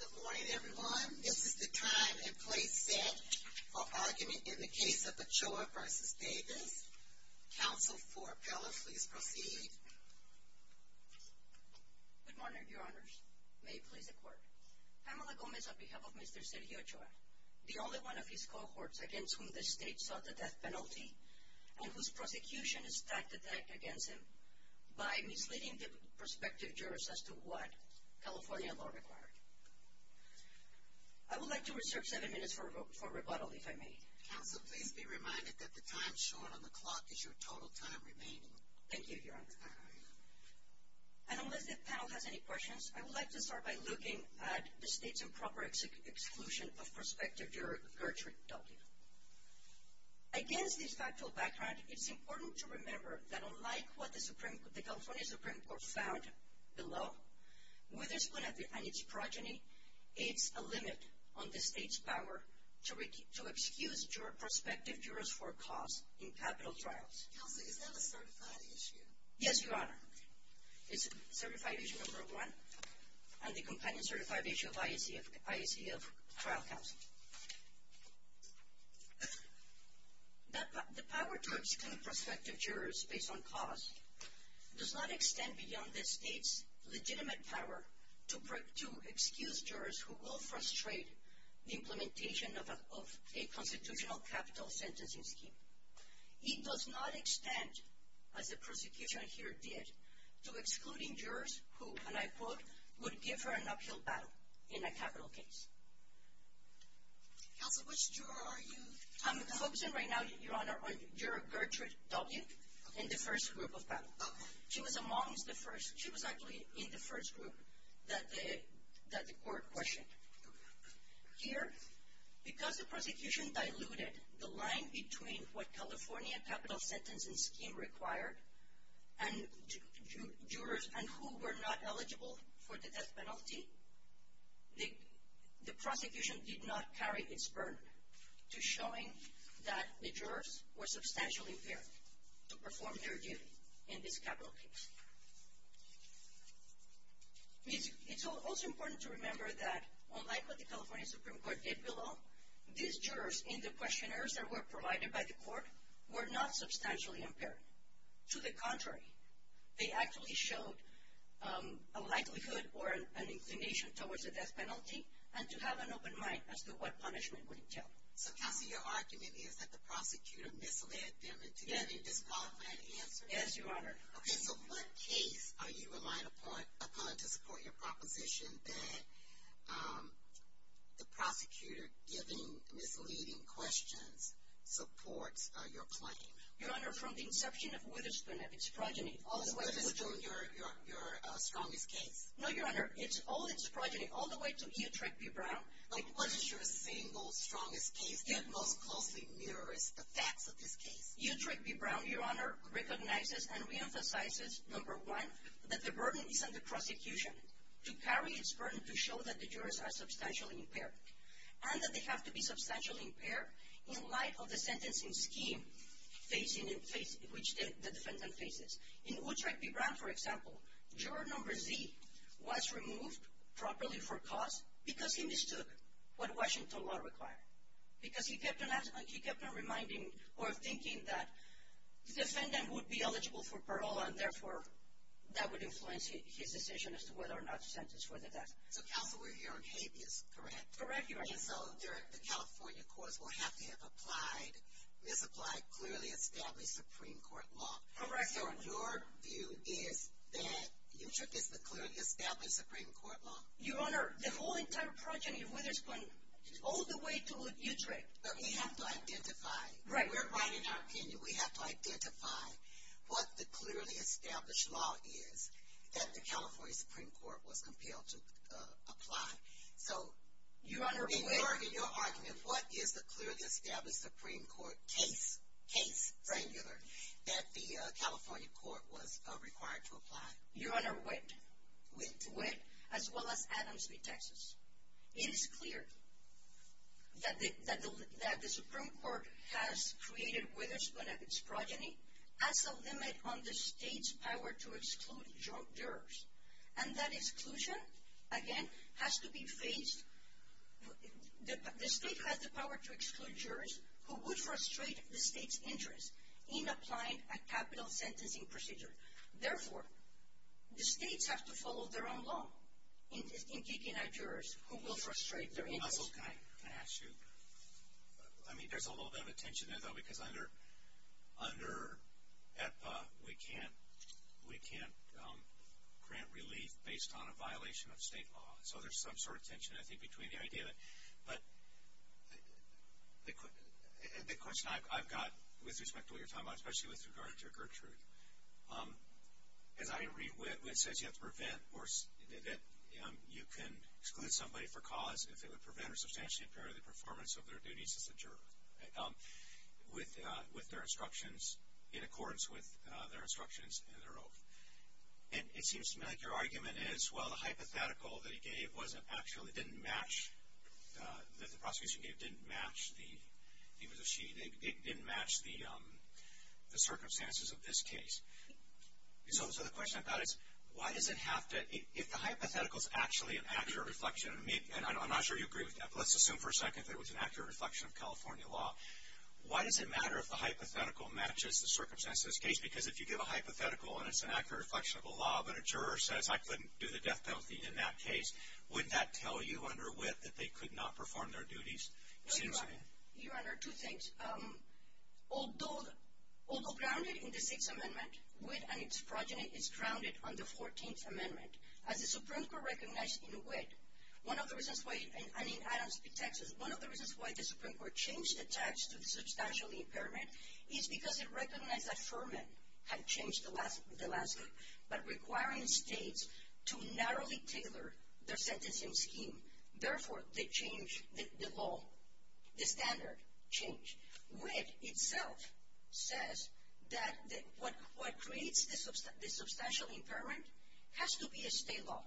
Good morning, everyone. This is the time and place set for argument in the case of Ochoa v. Davis. Counsel for appellant, please proceed. Good morning, Your Honors. May it please the Court. Pamela Gomez, on behalf of Mr. Sergio Ochoa, the only one of his cohorts against whom the State sought the death penalty and whose prosecution is tacked against him by misleading the prospective jurors as to what California law required. I would like to reserve seven minutes for rebuttal, if I may. Counsel, please be reminded that the time shown on the clock is your total time remaining. Thank you, Your Honor. And unless the panel has any questions, I would like to start by looking at the State's improper exclusion of prospective juror Gertrude W. Against this factual background, it's important to remember that unlike what the California Supreme Court found below, with its plenity and its progeny, it's a limit on the State's power to excuse prospective jurors for cause in capital trials. Counsel, is that a certified issue? Yes, Your Honor. It's certified issue number one, and the companion certified issue of IAC of trial counsel. The power to exclude prospective jurors based on cause does not extend beyond the State's legitimate power to excuse jurors who will frustrate the implementation of a constitutional capital sentencing scheme. It does not extend, as the prosecution here did, to excluding jurors who, and I quote, would give her an uphill battle in a capital case. Counsel, which juror are you? I'm focusing right now, Your Honor, on Juror Gertrude W. in the first group of panel. She was amongst the first. She was actually in the first group that the court questioned. Here, because the prosecution diluted the line between what California capital sentencing scheme required and jurors and who were not eligible for the death penalty, the prosecution did not carry its burden to showing that the jurors were substantially impaired to perform their duty in this capital case. It's also important to remember that, unlike what the California Supreme Court did below, these jurors in the questionnaires that were provided by the court were not substantially impaired. To the contrary, they actually showed a likelihood or an inclination towards the death penalty and to have an open mind as to what punishment would entail. So, counsel, your argument is that the prosecutor misled them and together disqualified the answer? Yes, Your Honor. Okay, so what case are you relying upon to support your proposition that the prosecutor giving misleading questions supports your claim? Your Honor, from the inception of Witherspoon and its progeny all the way to… Witherspoon, your strongest case? No, Your Honor, all its progeny, all the way to Utrecht v. Brown. Like, what is your single strongest case that most closely mirrors the facts of this case? Utrecht v. Brown, Your Honor, recognizes and reemphasizes, number one, that the burden is on the prosecution to carry its burden to show that the jurors are substantially impaired and that they have to be substantially impaired in light of the sentencing scheme which the defendant faces. In Utrecht v. Brown, for example, juror number Z was removed properly for cause because he mistook what Washington law required. Because he kept on reminding or thinking that the defendant would be eligible for parole and therefore that would influence his decision as to whether or not to sentence for the death. So counsel, we're here on habeas, correct? Correct, Your Honor. So the California courts will have to have applied, misapplied, clearly established Supreme Court law. Correct, Your Honor. So your view is that Utrecht is the clearly established Supreme Court law? Your Honor, the whole entire project, all the way to Utrecht. But we have to identify. Right. We're right in our opinion. We have to identify what the clearly established law is that the California Supreme Court was compelled to apply. So in your argument, what is the clearly established Supreme Court case, case, singular, that the California court was required to apply? Your Honor, wit. Wit. With wit as well as Adams v. Texas. It is clear that the Supreme Court has created with its progeny as a limit on the state's power to exclude jurors. And that exclusion, again, has to be faced. The state has the power to exclude jurors who would frustrate the state's interest in applying a capital sentencing procedure. Therefore, the states have to follow their own law in keeping out jurors who will frustrate their interest. Counsel, can I ask you? I mean, there's a little bit of a tension there, though, because under EPA, we can't grant relief based on a violation of state law. So there's some sort of tension, I think, between the idea that the question I've got with respect to what you're talking about, especially with regard to Gertrude. As I read wit, it says you have to prevent or that you can exclude somebody for cause if it would prevent or substantially impair the performance of their duties as a juror with their instructions in accordance with their instructions in their oath. And it seems to me like your argument is, well, the hypothetical that he gave wasn't actually, didn't match, that the prosecution gave didn't match the circumstances of this case. So the question I've got is, why does it have to, if the hypothetical is actually an accurate reflection, and I'm not sure you agree with that, but let's assume for a second that it was an accurate reflection of California law, why does it matter if the hypothetical matches the circumstances of this case? Because if you give a hypothetical and it's an accurate reflection of the law, but a juror says I couldn't do the death penalty in that case, wouldn't that tell you under wit that they could not perform their duties? It seems to me. Your Honor, two things. Although grounded in the Sixth Amendment, wit and its progeny is grounded on the Fourteenth Amendment. As the Supreme Court recognized in wit, one of the reasons why, and in Adams v. Texas, one of the reasons why the Supreme Court changed the text to substantially impairment is because it recognized that to narrowly tailor their sentencing scheme. Therefore, they changed the law, the standard changed. Wit itself says that what creates the substantial impairment has to be a state law.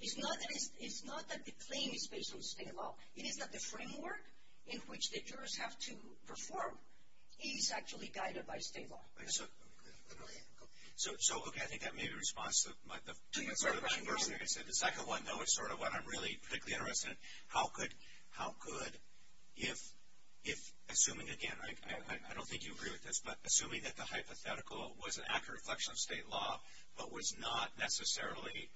It's not that the claim is based on state law. It is that the framework in which the jurors have to perform is actually guided by state law. So, okay, I think that maybe responds to the first thing I said. The second one, though, is sort of what I'm really particularly interested in. How could, assuming again, I don't think you agree with this, but assuming that the hypothetical was an accurate reflection of state law, but was not necessarily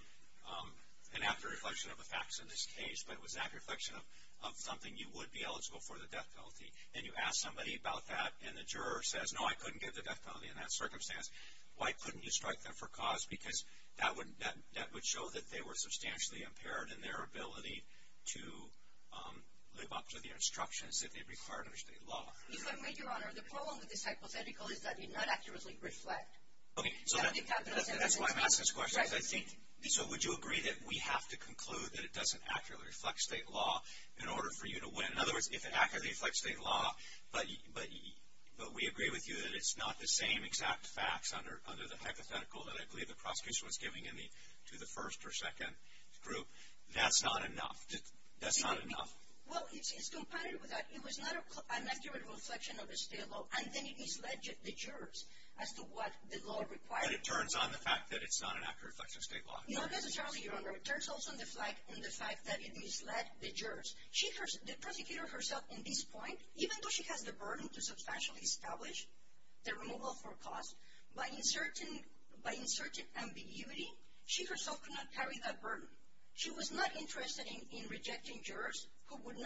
an accurate reflection of the facts in this case, but it was an accurate reflection of something you would be eligible for the death penalty, and you ask somebody about that and the juror says, no, I couldn't give the death penalty in that circumstance. Why couldn't you strike them for cause? Because that would show that they were substantially impaired in their ability to live up to the instructions that they required under state law. Your Honor, the problem with this hypothetical is that it did not accurately reflect. Okay, so that's why I'm asking this question. So would you agree that we have to conclude that it doesn't accurately reflect state law in order for you to win? In other words, if it accurately reflects state law, but we agree with you that it's not the same exact facts under the hypothetical that I believe the prosecutor was giving to the first or second group, that's not enough. That's not enough. Well, it's compatible with that. It was not an accurate reflection of the state law, and then it misled the jurors as to what the law required. But it turns on the fact that it's not an accurate reflection of state law. Not necessarily, Your Honor. It turns also on the fact that it misled the jurors. The prosecutor herself, at this point, even though she has the burden to substantially establish the removal for cause, by inserting ambiguity, she herself could not carry that burden. She was not interested in rejecting jurors who would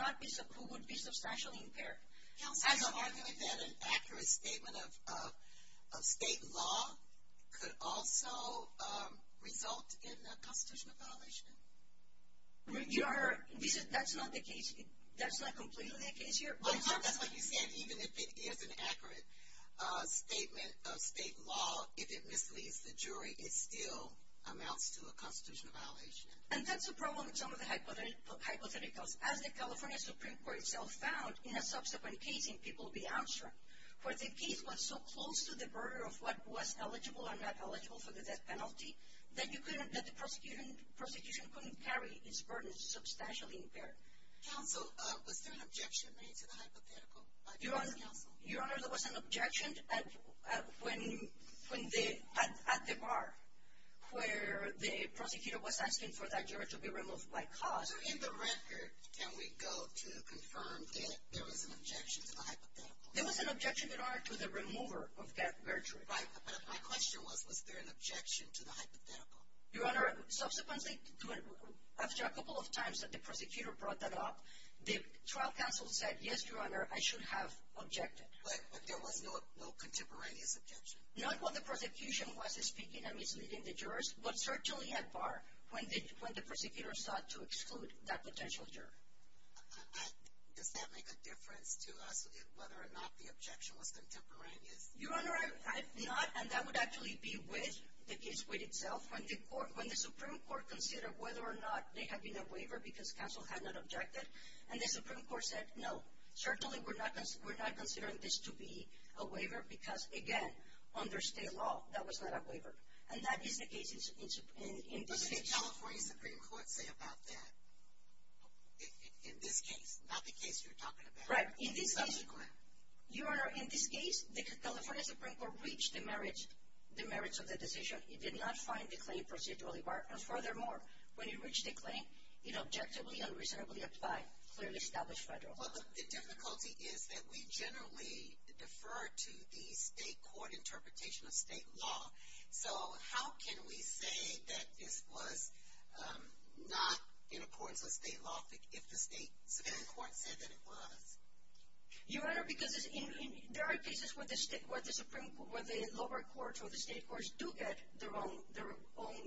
be substantially impaired. Now, so you argue that an accurate statement of state law could also result in a constitutional violation? Your Honor, that's not the case. That's not completely the case here. I'm sorry, that's what you said. Even if it is an accurate statement of state law, if it misleads the jury, it still amounts to a constitutional violation. And that's the problem with some of the hypotheticals. As the California Supreme Court itself found in a subsequent case in People v. Armstrong, where the case was so close to the border of what was eligible or not eligible for the death penalty, that the prosecution couldn't carry its burden substantially impaired. Counsel, was there an objection made to the hypothetical by the counsel? Your Honor, there was an objection at the bar where the prosecutor was asking for that juror to be removed by cause. So in the record, can we go to confirm that there was an objection to the hypothetical? There was an objection in order to the remover of death verdict. But my question was, was there an objection to the hypothetical? Your Honor, subsequently, after a couple of times that the prosecutor brought that up, the trial counsel said, yes, Your Honor, I should have objected. But there was no contemporaneous objection? Not when the prosecution was speaking and misleading the jurors, but certainly at bar when the prosecutor sought to exclude that potential juror. Does that make a difference to us, whether or not the objection was contemporaneous? Your Honor, not, and that would actually be with the case with itself. When the Supreme Court considered whether or not there had been a waiver because counsel had not objected, and the Supreme Court said, no, certainly we're not considering this to be a waiver because, again, under state law, that was not a waiver. And that is the case in this case. What did the California Supreme Court say about that in this case, not the case you're talking about? Right. Subsequently. Your Honor, in this case, the California Supreme Court reached the merits of the decision. It did not find the claim procedurally barred. And furthermore, when it reached a claim, it objectively and reasonably applied, clearly established federal. Well, the difficulty is that we generally defer to the state court interpretation of state law. So how can we say that this was not in accordance with state law if the state court said that it was? Your Honor, because there are cases where the lower courts or the state courts do get their own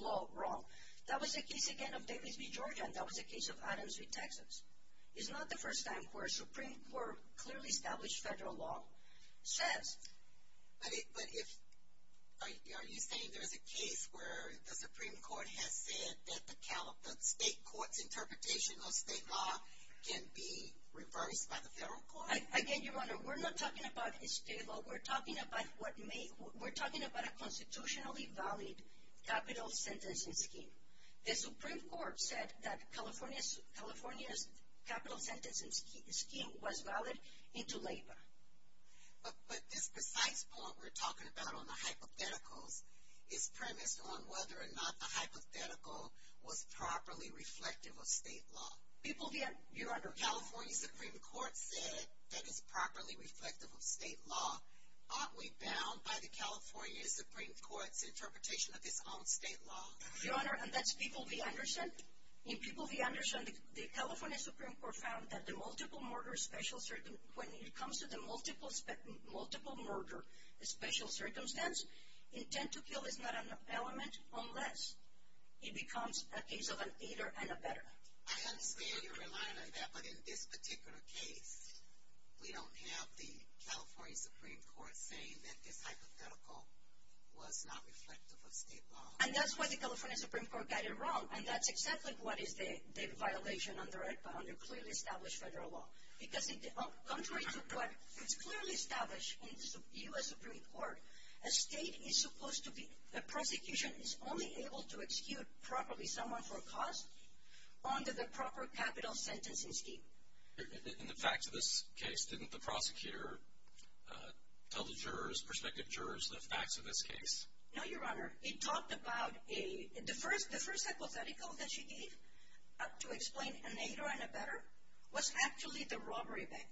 law wrong. That was the case, again, of Davis v. Georgia, and that was the case of Adams v. Texas. It's not the first time where a Supreme Court clearly established federal law says. But are you saying there's a case where the Supreme Court has said that the state court's interpretation of state law can be reversed by the federal court? Again, Your Honor, we're not talking about a state law. We're talking about a constitutionally valid capital sentencing scheme. The Supreme Court said that California's capital sentencing scheme was valid into labor. But this precise point we're talking about on the hypotheticals is premised on whether or not the hypothetical was properly reflective of state law. People v. Your Honor. California's Supreme Court said that it's properly reflective of state law. Aren't we bound by the California Supreme Court's interpretation of its own state law? Your Honor, and that's people v. Anderson. In people v. Anderson, the California Supreme Court found that when it comes to the multiple murder special circumstance, intent to kill is not an element unless it becomes a case of an either and a better. I understand you're relying on that, but in this particular case, we don't have the California Supreme Court saying that this hypothetical was not reflective of state law. And that's why the California Supreme Court got it wrong. And that's exactly what is the violation under clearly established federal law. Because contrary to what is clearly established in the U.S. Supreme Court, a state is supposed to be, a prosecution is only able to execute properly someone for a cause under the proper capital sentencing scheme. In the facts of this case, didn't the prosecutor tell the jurors, prospective jurors, the facts of this case? No, Your Honor. He talked about the first hypothetical that she gave to explain an either and a better was actually the robbery bit.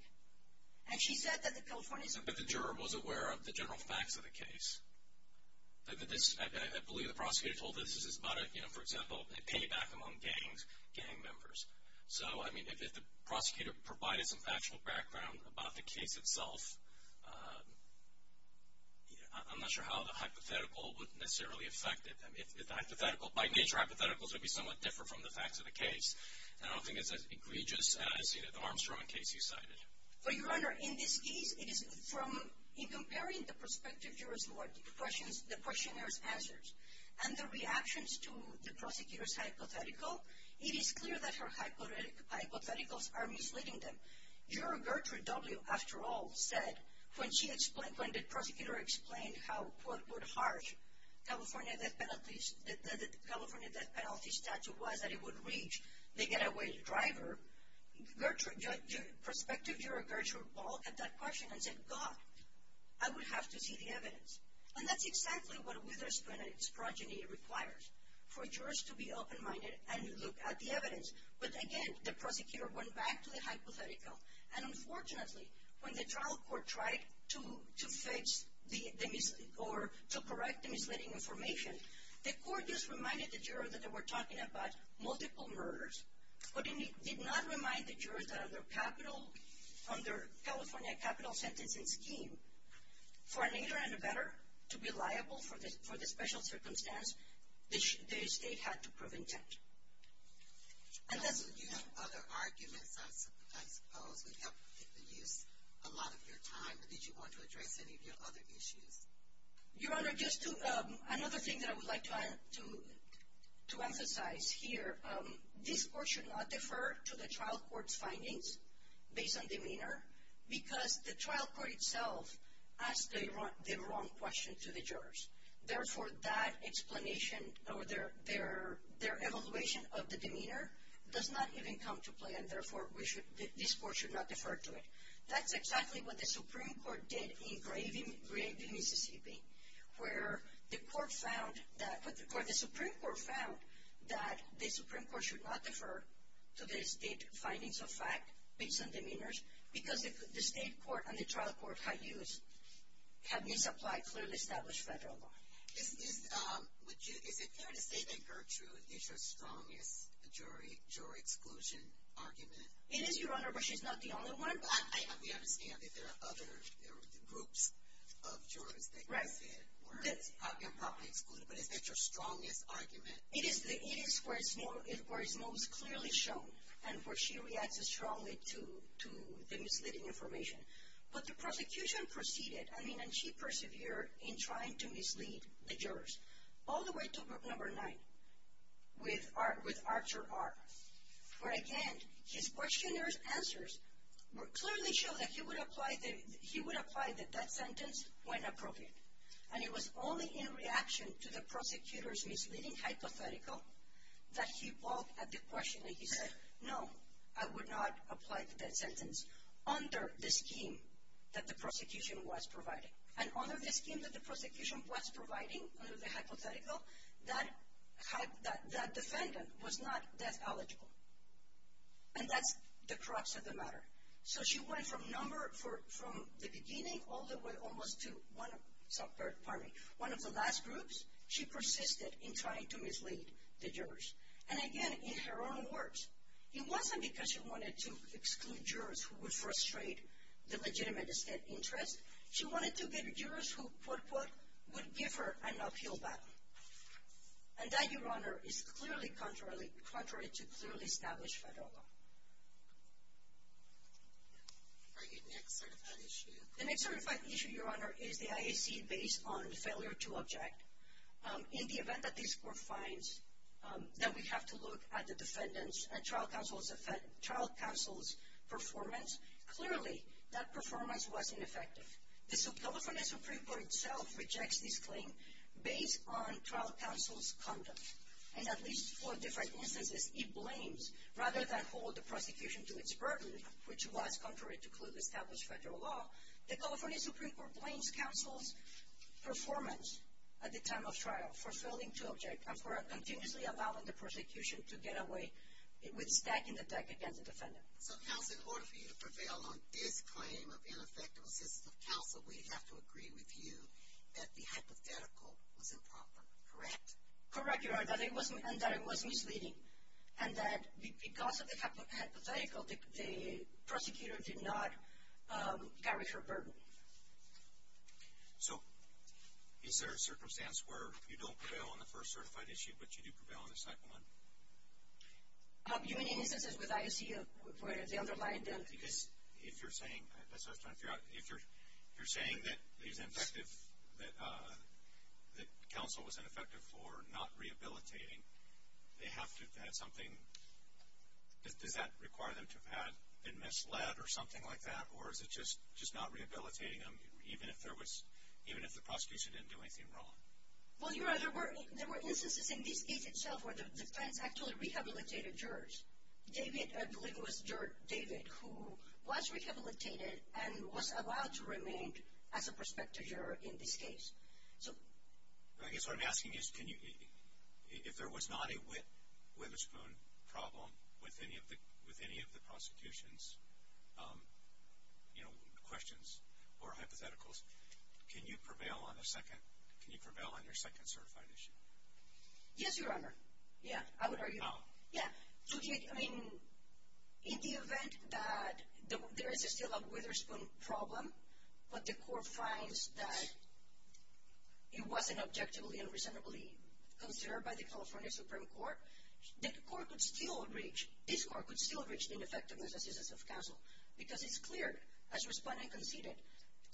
And she said that the California Supreme Court… But the juror was aware of the general facts of the case. I believe the prosecutor told us this is about, for example, a payback among gang members. So, I mean, if the prosecutor provided some factual background about the case itself, I'm not sure how the hypothetical would necessarily affect it. If the hypothetical, by nature, hypotheticals would be somewhat different from the facts of the case. And I don't think it's as egregious as, you know, the Armstrong case you cited. Well, Your Honor, in this case, it is from, in comparing the prospective jurors' questions, the questionnaires' answers, and the reactions to the prosecutor's hypothetical, it is clear that her hypotheticals are misleading them. Juror Gertrude W., after all, said, when she explained, when the prosecutor explained how, quote, unquote, harsh the California death penalty statute was that it would reach the getaway driver, prospective juror Gertrude W. looked at that question and said, God, I would have to see the evidence. And that's exactly what a witherspring and its progeny requires, for jurors to be open-minded and look at the evidence. But, again, the prosecutor went back to the hypothetical. And, unfortunately, when the trial court tried to correct the misleading information, the court just reminded the juror that they were talking about multiple murders, but it did not remind the juror that under California capital sentencing scheme, for an inner and a better, to be liable for the special circumstance, the estate had to prove intent. And that's... Do you have other arguments, I suppose, that helped reduce a lot of your time, or did you want to address any of your other issues? Your Honor, just to, another thing that I would like to emphasize here, this court should not defer to the trial court's findings based on demeanor, because the trial court itself asked the wrong question to the jurors. Therefore, that explanation or their evaluation of the demeanor does not even come to play, and, therefore, this court should not defer to it. That's exactly what the Supreme Court did in Gravey, Mississippi, where the Supreme Court found that the Supreme Court should not defer to the state findings of fact based on demeanors, because the state court and the trial court had misapplied clearly established federal law. Is it fair to say that Gertrude is your strongest jury exclusion argument? It is, Your Honor, but she's not the only one. I understand that there are other groups of jurors that you said were probably excluded, but is that your strongest argument? It is where it's most clearly shown, and where she reacts strongly to the misleading information. But the prosecution proceeded, I mean, and she persevered in trying to mislead the jurors, all the way to group number nine with Archer R., where, again, his questioner's answers clearly show that he would apply the death sentence when appropriate. And it was only in reaction to the prosecutor's misleading hypothetical that he looked at the question and he said, no, I would not apply the death sentence under the scheme that the prosecution was providing. And under the scheme that the prosecution was providing, under the hypothetical, that defendant was not death eligible. And that's the crux of the matter. So she went from the beginning all the way almost to one of the last groups. She persisted in trying to mislead the jurors. And, again, in her own words, it wasn't because she wanted to exclude jurors who would frustrate the legitimate state interest. She wanted to get jurors who, quote, unquote, would give her an uphill battle. And that, Your Honor, is clearly contrary to clearly established federal law. The next certified issue, Your Honor, is the IAC based on the failure to object. In the event that this court finds that we have to look at the defendant's and trial counsel's performance, clearly that performance was ineffective. The California Supreme Court itself rejects this claim based on trial counsel's conduct. And at least for different instances, it blames rather than hold the prosecution to its burden, which was contrary to clearly established federal law, the California Supreme Court blames counsel's performance at the time of trial for failing to object and for continuously allowing the prosecution to get away with stacking the deck against the defendant. So, counsel, in order for you to prevail on this claim of ineffective assistance of counsel, we have to agree with you that the hypothetical was improper, correct? Correct, Your Honor, and that it was misleading. And that because of the hypothetical, the prosecutor did not carry her burden. So, is there a circumstance where you don't prevail on the first certified issue, but you do prevail on the second one? You mean in instances with ISEA where they underlined this? If you're saying, that's what I was trying to figure out, if you're saying that counsel was ineffective for not rehabilitating, they have to have something, does that require them to have been misled or something like that, or is it just not rehabilitating them, even if the prosecution didn't do anything wrong? Well, Your Honor, there were instances in this case itself where the defense actually rehabilitated jurors. David, I believe it was David, who was rehabilitated and was allowed to remain as a prospective juror in this case. I guess what I'm asking is, if there was not a whimspoon problem with any of the prosecutions, you know, questions or hypotheticals, can you prevail on the second, can you prevail on your second certified issue? Yes, Your Honor. Yeah, I would argue. Oh. Yeah. I mean, in the event that there is still a witherspoon problem, but the court finds that it wasn't objectively and reasonably considered by the California Supreme Court, the court could still reach, this court could still reach the ineffectiveness assistance of counsel, because it's clear, as respondent conceded,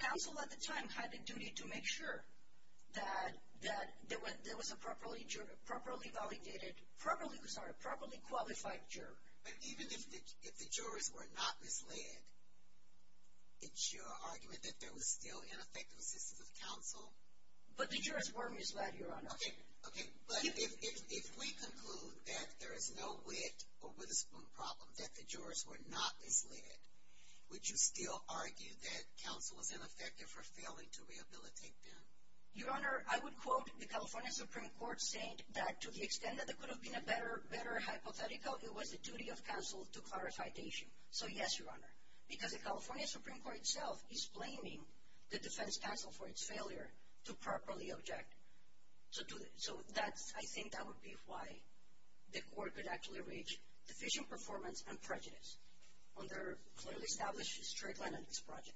counsel at the time had the duty to make sure that there was a properly validated, a properly qualified juror. But even if the jurors were not misled, it's your argument that there was still ineffective assistance of counsel? But the jurors were misled, Your Honor. Okay. But if we conclude that there is no wit or witherspoon problem, that the jurors were not misled, would you still argue that counsel was ineffective for failing to rehabilitate them? Your Honor, I would quote the California Supreme Court saying that, to the extent that there could have been a better hypothetical, it was the duty of counsel to clarify the issue. So, yes, Your Honor. Because the California Supreme Court itself is blaming the defense counsel for its failure to properly object. So I think that would be why the court could actually reach deficient performance and prejudice on their clearly established straight line on this project.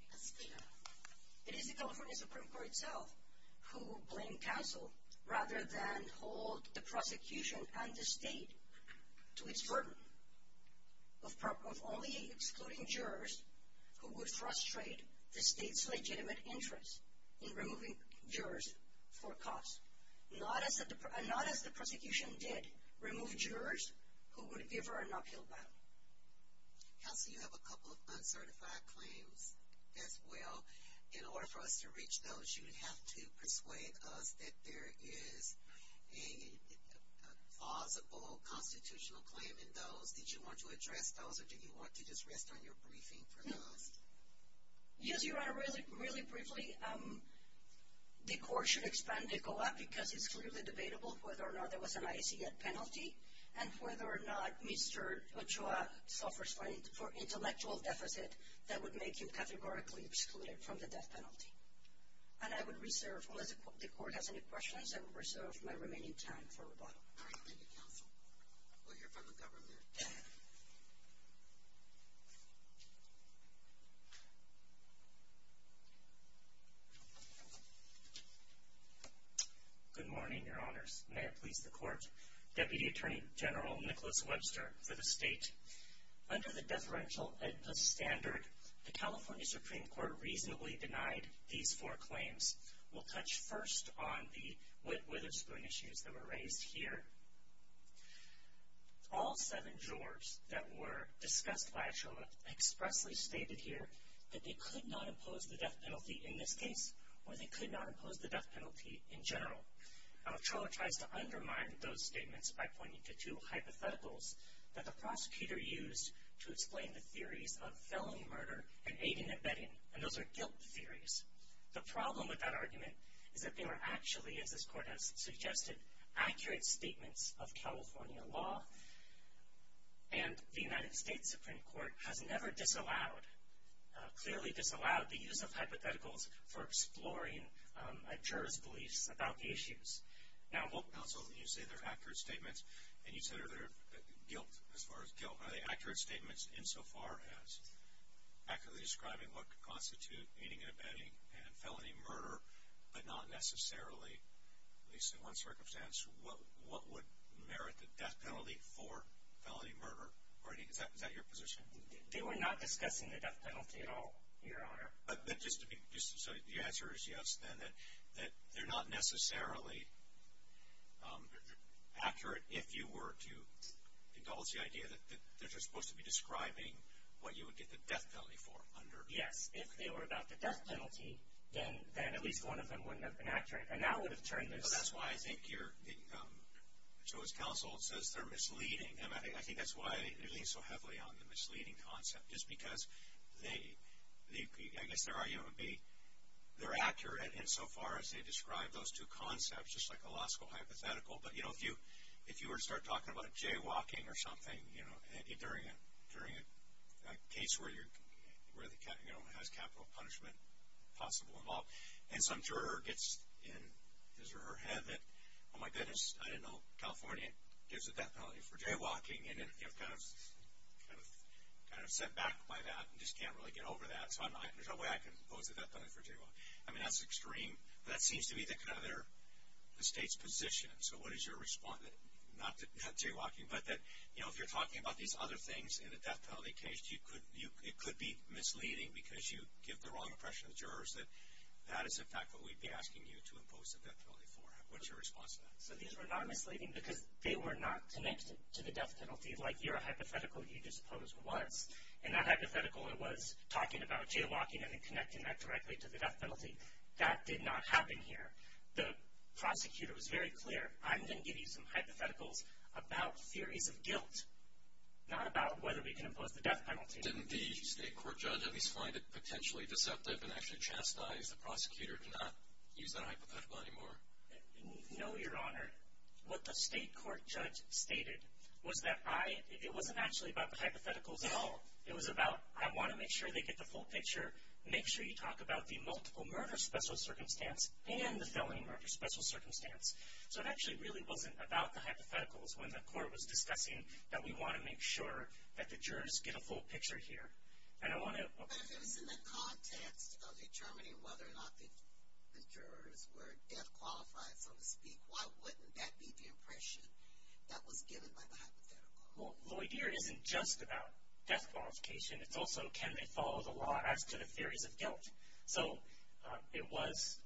It is the California Supreme Court itself who will blame counsel rather than hold the prosecution and the state to its burden of only excluding jurors who would frustrate the state's legitimate interest in removing jurors for a cause, not as the prosecution did remove jurors who would give her an uphill battle. Counsel, you have a couple of uncertified claims as well. In order for us to reach those, you'd have to persuade us that there is a plausible constitutional claim in those. Did you want to address those, or did you want to just rest on your briefing for now? Yes, Your Honor. Really briefly, the court should expand the COAP because it's clearly debatable whether or not there was an IAC penalty and whether or not Mr. Ochoa suffers for intellectual deficit that would make him categorically excluded from the death penalty. And I would reserve, unless the court has any questions, I would reserve my remaining time for rebuttal. Thank you, counsel. We'll hear from the government. Good morning, Your Honors. May it please the Court. Deputy Attorney General Nicholas Webster for the state. Under the deferential Edpus standard, the California Supreme Court reasonably denied these four claims. We'll touch first on the Whitwaterspoon issues that were raised here. All seven jurors that were discussed by Ochoa expressly stated here that they could not impose the death penalty in this case or they could not impose the death penalty in general. Ochoa tries to undermine those statements by pointing to two hypotheticals that the prosecutor used to explain the theories of felon murder and aiding and abetting, and those are guilt theories. The problem with that argument is that they were actually, as this Court has suggested, accurate statements of California law, and the United States Supreme Court has never disallowed, clearly disallowed, the use of hypotheticals for exploring a juror's beliefs about the issues. Now, counsel, you say they're accurate statements, and you said they're guilt as far as guilt. Are they accurate statements insofar as accurately describing what could constitute aiding and abetting and felony murder but not necessarily, at least in one circumstance, what would merit the death penalty for felony murder? Is that your position? They were not discussing the death penalty at all, Your Honor. So your answer is yes, then, that they're not necessarily accurate if you were to indulge the idea that they're just supposed to be describing what you would get the death penalty for under… Yes, if they were about the death penalty, then at least one of them wouldn't have been accurate, and that would have turned this… So that's why I think you're – Ochoa's counsel says they're misleading, and I think that's why they lean so heavily on the misleading concept, just because they – I guess their argument would be they're accurate insofar as they describe those two concepts, just like a law school hypothetical. But, you know, if you were to start talking about jaywalking or something, you know, during a case where the – you know, has capital punishment possible involved, and some juror gets in his or her head that, oh, my goodness, I didn't know California gives a death penalty for jaywalking, and then, you know, kind of set back by that and just can't really get over that. So there's no way I can impose a death penalty for jaywalking. I mean, that's extreme. But that seems to be the kind of their – the state's position. So what is your response? Not jaywalking, but that, you know, if you're talking about these other things in a death penalty case, it could be misleading because you give the wrong impression to the jurors that that is, in fact, what we'd be asking you to impose a death penalty for. What is your response to that? So these were not misleading because they were not connected to the death penalty like your hypothetical you just posed was. In that hypothetical, it was talking about jaywalking and then connecting that directly to the death penalty. That did not happen here. The prosecutor was very clear, I'm going to give you some hypotheticals about theories of guilt, not about whether we can impose the death penalty. Didn't the state court judge at least find it potentially deceptive and actually chastise the prosecutor to not use that hypothetical anymore? No, Your Honor. What the state court judge stated was that I – it wasn't actually about the hypotheticals at all. It was about I want to make sure they get the full picture. Make sure you talk about the multiple murder special circumstance and the felony murder special circumstance. So it actually really wasn't about the hypotheticals when the court was discussing that we want to make sure that the jurors get a full picture here. And I want to – But if it was in the context of determining whether or not the jurors were death qualified, so to speak, why wouldn't that be the impression that was given by the hypothetical? Well, Lloydere isn't just about death qualification. It's also can they follow the law as to the theories of guilt. So it was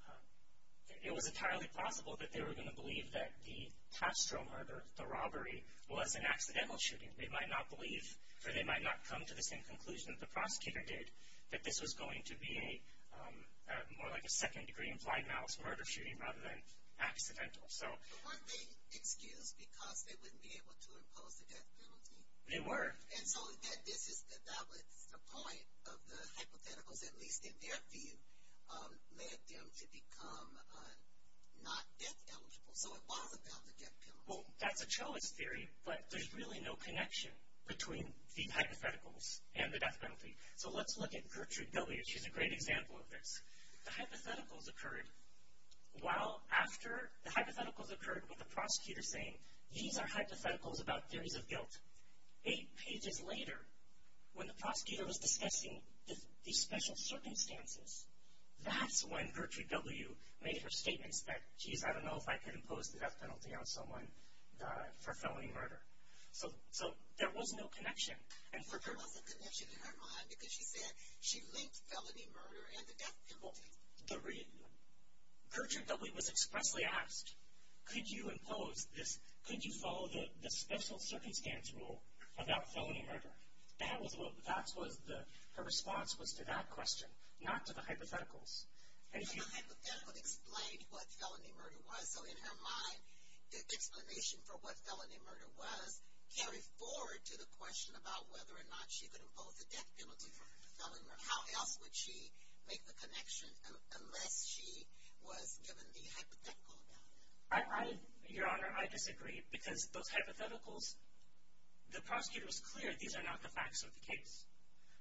entirely possible that they were going to believe that the Castro murder, the robbery, was an accidental shooting. They might not believe, or they might not come to the same conclusion that the prosecutor did, that this was going to be more like a second-degree implied malice murder shooting rather than accidental. But weren't they excused because they wouldn't be able to impose the death penalty? They were. And so that was the point of the hypotheticals, at least in their view, led them to become not death eligible. So it was about the death penalty. Well, that's a Choas theory, but there's really no connection between the hypotheticals and the death penalty. So let's look at Gertrude Billiard. She's a great example of this. The hypotheticals occurred while after the hypotheticals occurred with the prosecutor saying, these are hypotheticals about theories of guilt. Eight pages later, when the prosecutor was discussing the special circumstances, that's when Gertrude W. made her statements that, geez, I don't know if I could impose the death penalty on someone for felony murder. So there was no connection. And for her, there was a connection in her mind because she said she linked felony murder and the death penalty. Gertrude W. was expressly asked, could you impose this, could you follow the special circumstance rule about felony murder? That was what her response was to that question, not to the hypotheticals. And the hypothetical explained what felony murder was. So in her mind, the explanation for what felony murder was carried forward to the question about whether or not she could impose the death penalty for felony murder. How else would she make the connection unless she was given the hypothetical about it? Your Honor, I disagree because those hypotheticals, the prosecutor was clear these are not the facts of the case.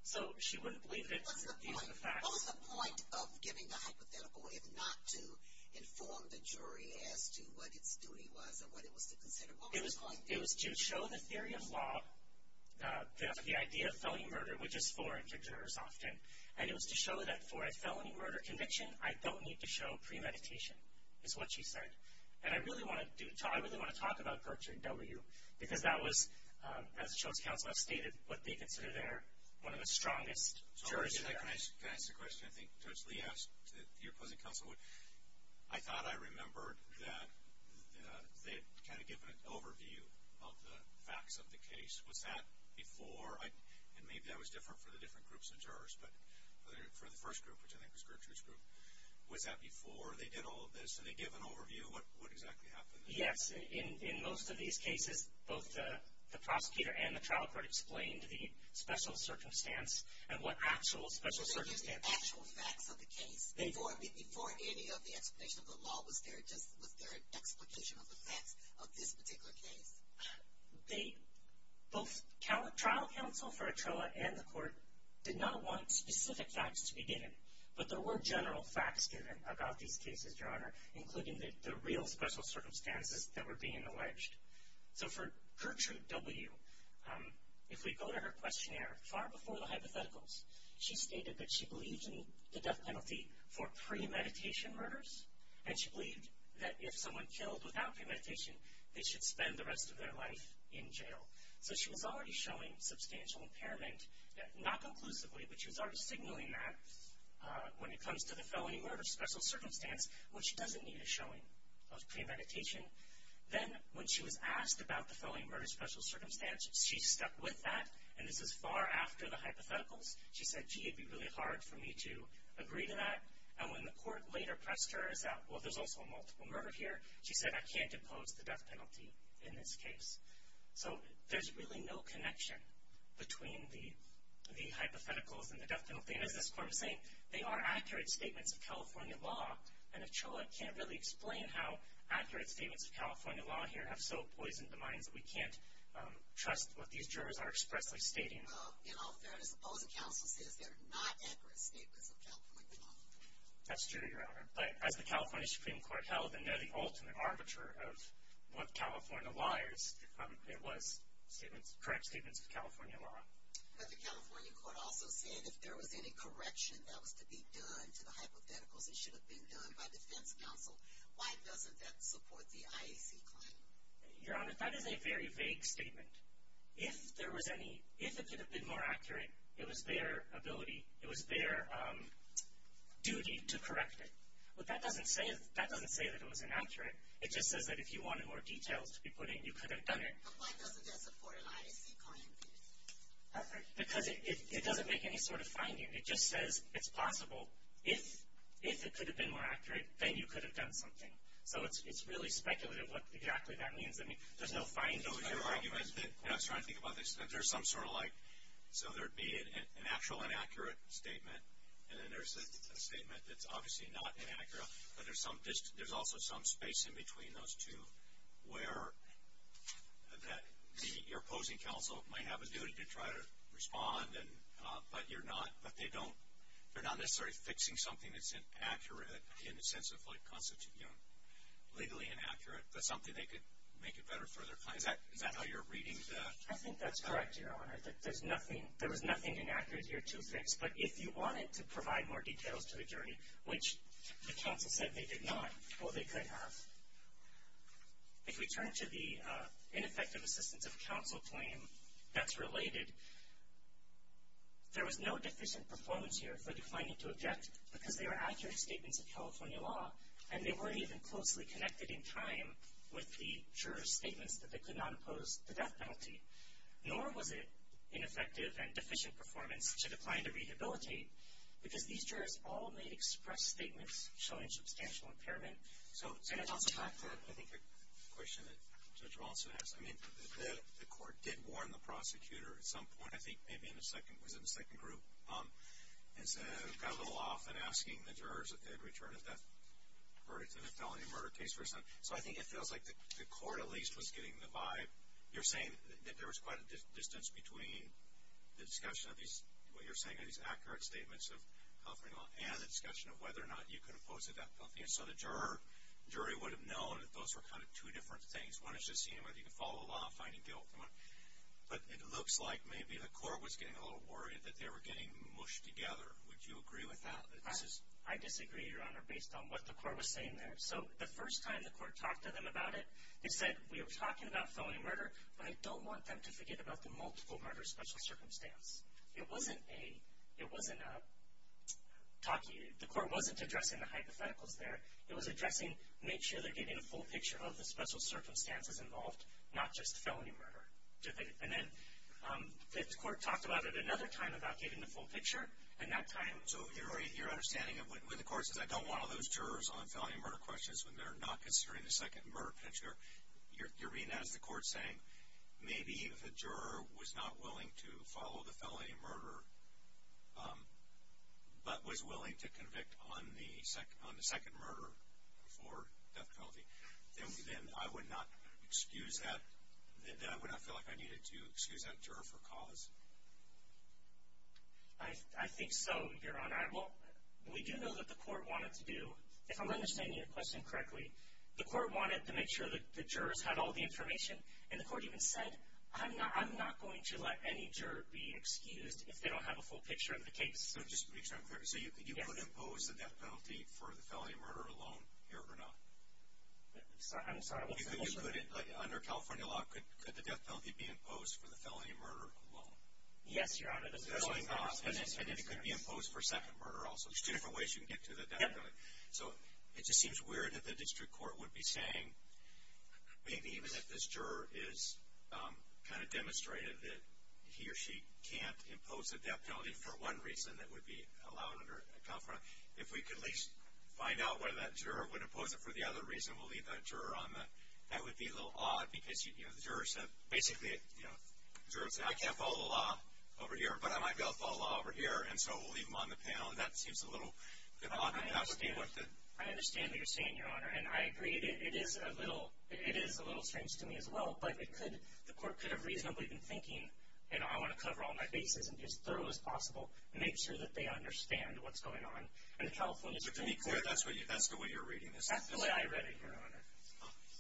So she wouldn't believe that these are the facts. What was the point of giving the hypothetical if not to inform the jury as to what its duty was or what it was to consider? It was to show the theory of law, the idea of felony murder, which is foreign to jurors often. And it was to show that for a felony murder conviction, I don't need to show premeditation is what she said. And I really want to talk about Gertrude W. because that was, as the Children's Council has stated, what they consider their one of the strongest jurors there. Can I ask a question? I think Judge Lee asked that your cousin counsel would. I thought I remembered that they had kind of given an overview of the facts of the case. Was that before? And maybe that was different for the different groups of jurors, but for the first group, which I think was Gertrude's group, was that before they did all of this and they gave an overview of what exactly happened? Yes. In most of these cases, both the prosecutor and the trial court explained the special circumstance and what actual special circumstances. They didn't use the actual facts of the case. Before any of the explanation of the law, was there an explanation of the facts of this particular case? Both trial counsel for Etrella and the court did not want specific facts to be given, but there were general facts given about these cases, Your Honor, including the real special circumstances that were being alleged. So for Gertrude W., if we go to her questionnaire, far before the hypotheticals, she stated that she believed in the death penalty for premeditation murders, and she believed that if someone killed without premeditation, they should spend the rest of their life in jail. So she was already showing substantial impairment, not conclusively, but she was already signaling that when it comes to the felony murder special circumstance, which doesn't need a showing of premeditation. Then when she was asked about the felony murder special circumstance, she stuck with that, and this is far after the hypotheticals. She said, gee, it would be really hard for me to agree to that. And when the court later pressed her as to, well, there's also a multiple murder here, she said, I can't impose the death penalty in this case. So there's really no connection between the hypotheticals and the death penalty. And as this court was saying, they are accurate statements of California law, and Ochoa can't really explain how accurate statements of California law here have so poisoned the minds that we can't trust what these jurors are expressly stating. In all fairness, the opposing counsel says they are not accurate statements of California law. That's true, Your Honor. But as the California Supreme Court held, and they're the ultimate arbiter of what California lies, it was correct statements of California law. But the California court also said if there was any correction that was to be done to the hypotheticals, it should have been done by defense counsel. Why doesn't that support the IAC claim? Your Honor, that is a very vague statement. If there was any, if it could have been more accurate, it was their ability, it was their duty to correct it. But that doesn't say that it was inaccurate. It just says that if you wanted more details to be put in, you could have done it. But why doesn't that support an IAC claim? Because it doesn't make any sort of finding. It just says it's possible if it could have been more accurate, then you could have done something. So it's really speculative what exactly that means. I mean, there's no finding. No, but your argument, and I was trying to think about this, that there's some sort of like, so there would be an actual inaccurate statement, and then there's a statement that's obviously not inaccurate, but there's also some space in between those two where your opposing counsel might have a duty to try to respond, but you're not, but they don't, they're not necessarily fixing something that's inaccurate in the sense of like constituting legally inaccurate, but something they could make a better further claim. Is that how you're reading that? I think that's correct, Your Honor. There's nothing, there was nothing inaccurate here to fix. But if you wanted to provide more details to the jury, which the counsel said they did not, well, they could have. If we turn to the ineffective assistance of counsel claim that's related, there was no deficient performance here for declining to object, because they were accurate statements of California law, and they weren't even closely connected in time with the juror's statements that they could not impose the death penalty. Nor was it ineffective and deficient performance to decline to rehabilitate, because these jurors all made express statements showing substantial impairment. And on the fact that I think the question that Judge Walsh had asked, I mean, the court did warn the prosecutor at some point, I think maybe in the second group, and got a little off in asking the jurors if they'd return a death verdict in a felony murder case. So I think it feels like the court at least was getting the vibe. You're saying that there was quite a distance between the discussion of these, what you're saying are these accurate statements of California law and the discussion of whether or not you could impose a death penalty. And so the jury would have known that those were kind of two different things. One is just seeing whether you could follow the law and finding guilt. But it looks like maybe the court was getting a little worried that they were getting mushed together. Would you agree with that? I disagree, Your Honor, based on what the court was saying there. So the first time the court talked to them about it, they said, we were talking about felony murder, but I don't want them to forget about the multiple murder special circumstance. It wasn't a talkie. The court wasn't addressing the hypotheticals there. It was addressing, make sure they're getting a full picture of the special circumstances involved, not just felony murder. And then the court talked about it another time about getting the full picture, and that time. So your understanding of when the court says, I don't want all those jurors on felony murder questions when they're not considering the second murder picture, you're being asked the court saying, maybe the juror was not willing to follow the felony murder, but was willing to convict on the second murder for death penalty. Then I would not feel like I needed to excuse that juror for cause. I think so, Your Honor. We do know that the court wanted to do, if I'm understanding your question correctly, the court wanted to make sure that the jurors had all the information, and the court even said, I'm not going to let any juror be excused if they don't have a full picture of the case. So just to be clear, could you impose the death penalty for the felony murder alone here or not? I'm sorry, what's the question? Under California law, could the death penalty be imposed for the felony murder alone? Yes, Your Honor. And it could be imposed for second murder also. There's two different ways you can get to the death penalty. So it just seems weird that the district court would be saying, maybe even if this juror is kind of demonstrated that he or she can't impose the death penalty for one reason, that would be allowed under California law. If we could at least find out whether that juror would impose it for the other reason, we'll leave that juror on that. That would be a little odd because, you know, the jurors have basically, you know, jurors say, I can't follow the law over here, but I might be able to follow the law over here, and so we'll leave them on the panel. And that seems a little odd enough to be worth it. I understand what you're saying, Your Honor, and I agree. It is a little strange to me as well, but the court could have reasonably been thinking, you know, I want to cover all my bases and be as thorough as possible and make sure that they understand what's going on. But to be clear, that's the way you're reading this? That's the way I read it, Your Honor.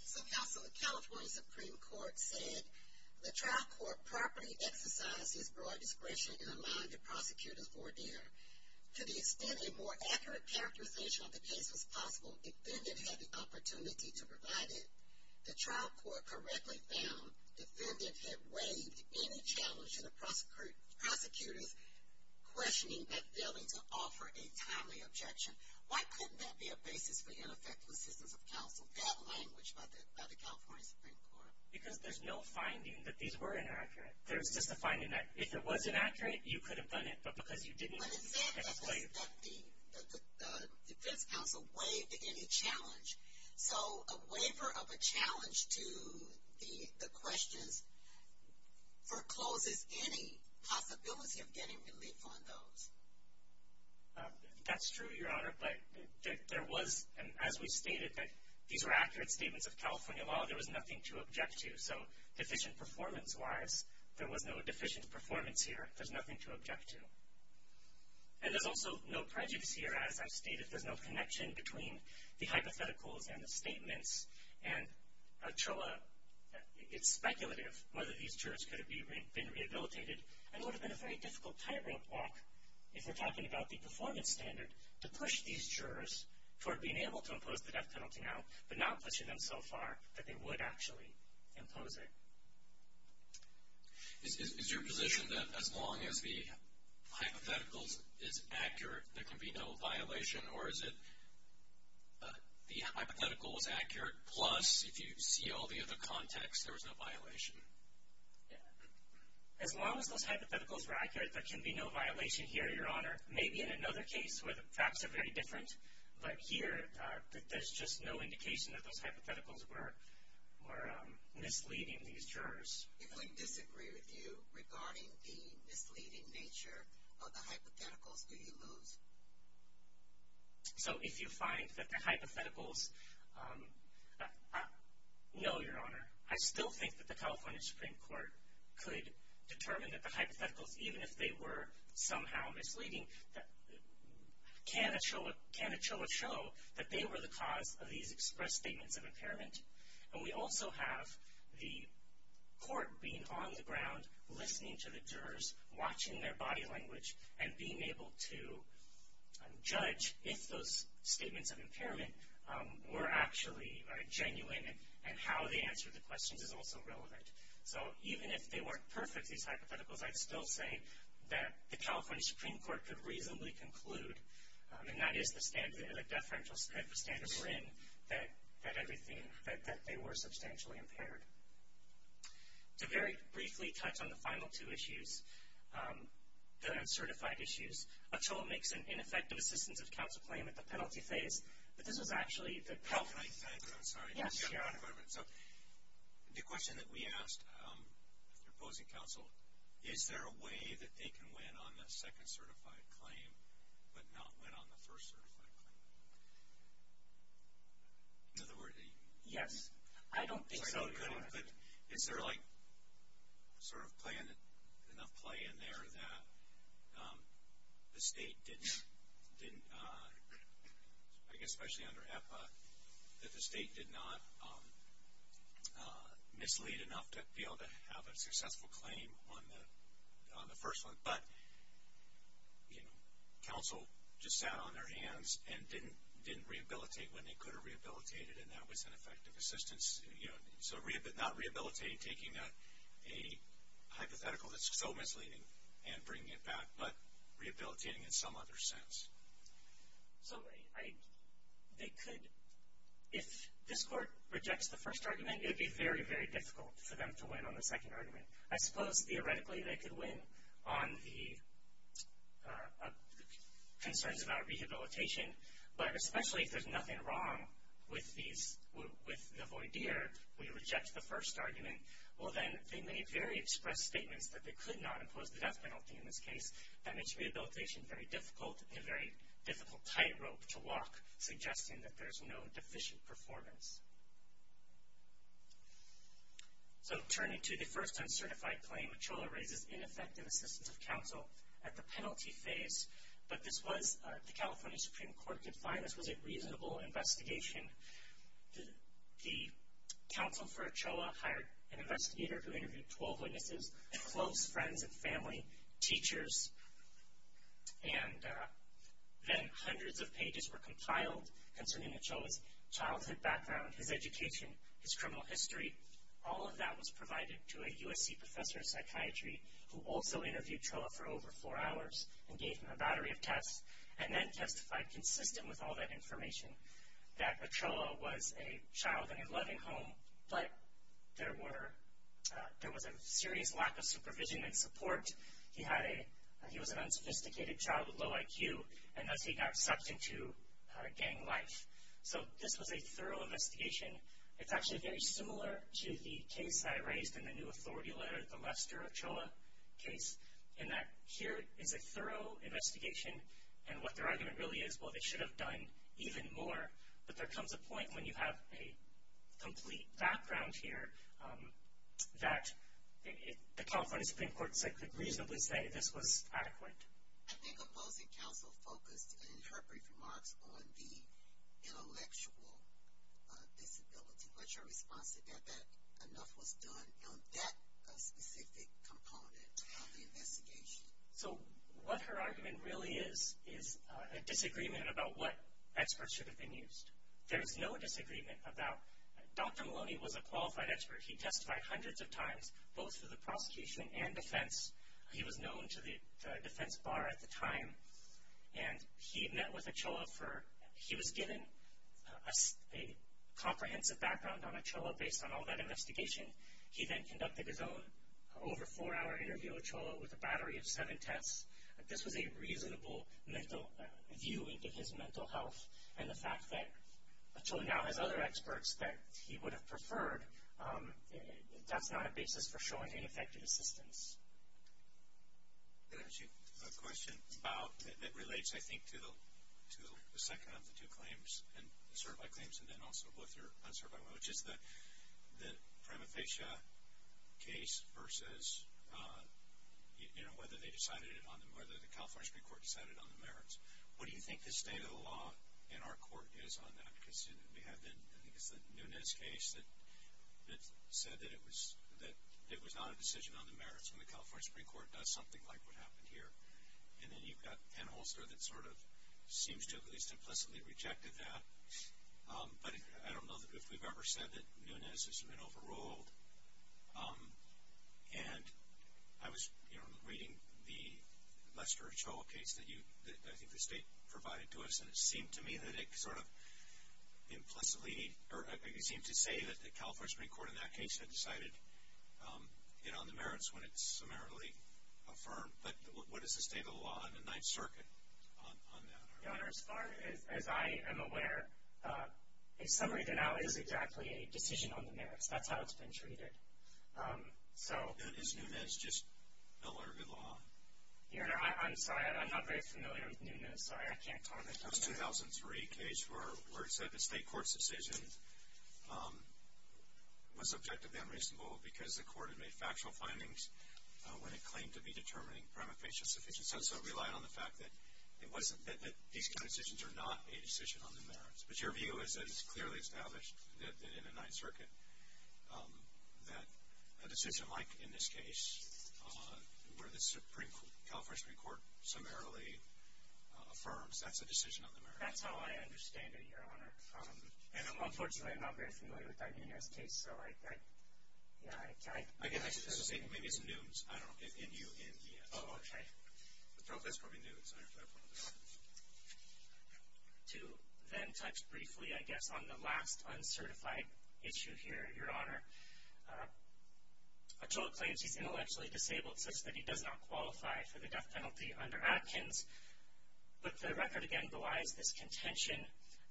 So counsel, the California Supreme Court said, The trial court properly exercised its broad discretion in allowing the prosecutor's ordeal. To the extent a more accurate characterization of the case was possible, defendant had the opportunity to provide it. The trial court correctly found defendant had waived any challenge to the prosecutor's questioning by failing to offer a timely objection. Why couldn't that be a basis for ineffective assistance of counsel? That language by the California Supreme Court. Because there's no finding that these were inaccurate. There's just a finding that if it was inaccurate, you could have done it, but because you didn't, you couldn't explain it. But it said that the defense counsel waived any challenge. So a waiver of a challenge to the questions forecloses any possibility of getting relief on those. That's true, Your Honor, but there was, as we stated, that these were accurate statements of California law. There was nothing to object to. So deficient performance-wise, there was no deficient performance here. There's nothing to object to. And there's also no prejudice here, as I've stated. There's no connection between the hypotheticals and the statements. And, Archula, it's speculative whether these jurors could have been rehabilitated, and it would have been a very difficult tightrope walk, if we're talking about the performance standard, to push these jurors toward being able to impose the death penalty now, but not pushing them so far that they would actually impose it. Is your position that as long as the hypotheticals is accurate, there can be no violation? Or is it the hypothetical was accurate, plus if you see all the other contexts, there was no violation? As long as those hypotheticals were accurate, there can be no violation here, Your Honor. Maybe in another case where the facts are very different, but here there's just no indication that those hypotheticals were misleading these jurors. If I disagree with you regarding the misleading nature of the hypotheticals, do you lose? So if you find that the hypotheticals – no, Your Honor. I still think that the California Supreme Court could determine that the hypotheticals, even if they were somehow misleading, can it show a show that they were the cause of these expressed statements of impairment? And we also have the court being on the ground, listening to the jurors, watching their body language, and being able to judge if those statements of impairment were actually genuine, and how they answered the questions is also relevant. So even if they weren't perfect, these hypotheticals, I'd still say that the California Supreme Court could reasonably conclude, and that is the deferential standard we're in, that everything – that they were substantially impaired. To very briefly touch on the final two issues, the uncertified issues, a toll makes an ineffective assistance of counsel claim at the penalty phase, but this was actually the – Yes, Your Honor. The question that we asked, if you're opposing counsel, is there a way that they can win on the second certified claim but not win on the first certified claim? In other words – I don't think so, Your Honor. But is there like sort of enough play in there that the state didn't – I guess especially under EPA, that the state did not mislead enough to be able to have a successful claim on the first one, but counsel just sat on their hands and didn't rehabilitate when they could have rehabilitated, and that was an effective assistance. So not rehabilitating, taking a hypothetical that's so misleading and bringing it back, but rehabilitating in some other sense. So they could – if this Court rejects the first argument, it would be very, very difficult for them to win on the second argument. I suppose theoretically they could win on the concerns about rehabilitation, but especially if there's nothing wrong with the voir dire, we reject the first argument, well then they may very express statements that they could not impose the death penalty in this case. That makes rehabilitation very difficult and a very difficult tightrope to walk, suggesting that there's no deficient performance. So turning to the first uncertified claim, Chola raises ineffective assistance of counsel at the penalty phase, but this was – the California Supreme Court could find this was a reasonable investigation. The counsel for Chola hired an investigator who interviewed 12 witnesses and close friends and family, teachers, and then hundreds of pages were compiled concerning Chola's childhood background, his education, his criminal history. All of that was provided to a USC professor of psychiatry who also interviewed Chola for over four hours and gave him a battery of tests and then testified consistent with all that information that Chola was a child in a loving home, but there was a serious lack of supervision and support. He was an unsophisticated child with low IQ, and thus he got sucked into gang life. So this was a thorough investigation. It's actually very similar to the case that I raised in the new authority letter, the Lester of Chola case, in that here is a thorough investigation, and what their argument really is, well, they should have done even more, but there comes a point when you have a complete background here that the California Supreme Court could reasonably say this was adequate. I think opposing counsel focused in her brief remarks on the intellectual disability, but your response is that enough was done on that specific component of the investigation. So what her argument really is is a disagreement about what experts should have been used. There is no disagreement about Dr. Maloney was a qualified expert. He testified hundreds of times both for the prosecution and defense. He was known to the defense bar at the time, and he met with a Chola for he was given a comprehensive background, based on all that investigation. He then conducted his own over four-hour interview with Chola with a battery of seven tests. This was a reasonable view into his mental health, and the fact that Chola now has other experts that he would have preferred, that's not a basis for showing ineffective assistance. Did I ask you a question that relates, I think, to the second of the two claims, the certified claims and then also both your uncertified one, which is the Pramathesha case versus whether the California Supreme Court decided on the merits. What do you think the state of the law in our court is on that? I think it's the Nunez case that said that it was not a decision on the merits, and the California Supreme Court does something like what happened here. And then you've got Ann Holster that sort of seems to have at least implicitly rejected that. But I don't know if we've ever said that Nunez has been overruled. And I was reading the Lester Chola case that I think the state provided to us, and it seemed to me that it sort of implicitly seemed to say that the California Supreme Court in that case had decided on the merits when it summarily affirmed. But what is the state of the law in the Ninth Circuit on that? Your Honor, as far as I am aware, a summary denial is exactly a decision on the merits. That's how it's been treated. Is Nunez just no longer law? Your Honor, I'm sorry. I'm not very familiar with Nunez. I'm sorry. I can't comment on that. It was a 2003 case where it said the state court's decision was objectively unreasonable because the court had made factual findings when it claimed to be determining prima facie sufficient. So it relied on the fact that these kind of decisions are not a decision on the merits. But your view is that it's clearly established that in the Ninth Circuit that a decision like in this case, where the California Supreme Court summarily affirms, that's a decision on the merits. That's how I understand it, Your Honor. And, unfortunately, I'm not very familiar with that Nunez case. So, yeah. Maybe it's Nunez. I don't know. N-U-N-E-Z. Oh, okay. That's probably Nunez. I don't know. To then touch briefly, I guess, on the last uncertified issue here, Your Honor, Achola claims he's intellectually disabled such that he does not qualify for the death penalty under Atkins. But the record, again, belies this contention.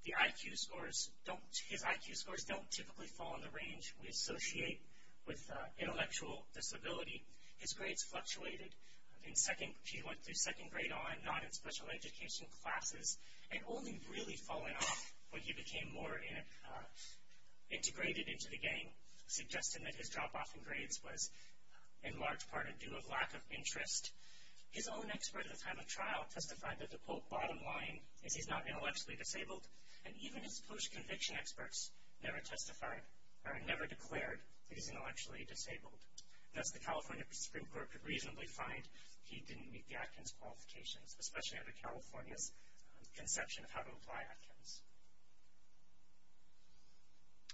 His IQ scores don't typically fall in the range we associate with intellectual disability. His grades fluctuated. He went through second grade on, not in special education classes, and only really fallen off when he became more integrated into the gang, suggesting that his drop-off in grades was, in large part, due to a lack of interest. His own expert at the time of trial testified that the, quote, bottom line is he's not intellectually disabled, and even his post-conviction experts never declared that he's intellectually disabled. Thus, the California Supreme Court could reasonably find he didn't meet the Atkins qualifications, especially under California's conception of how to apply Atkins.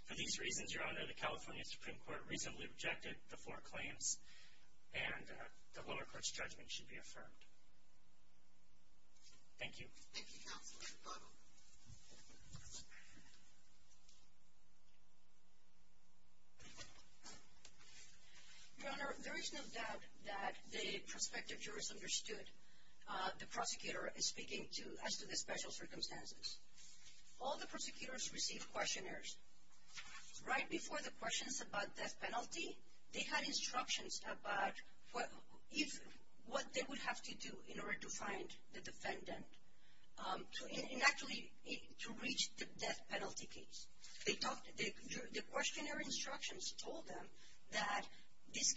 For these reasons, Your Honor, the California Supreme Court reasonably rejected the four claims, and the lower court's judgment should be affirmed. Thank you. Thank you, counsel. Thank you. Your Honor, there is no doubt that the prospective jurors understood the prosecutor speaking as to the special circumstances. All the prosecutors received questionnaires. Right before the questions about death penalty, they had instructions about what they would have to do in order to find the defendant and actually to reach the death penalty case. The questionnaire instructions told them that there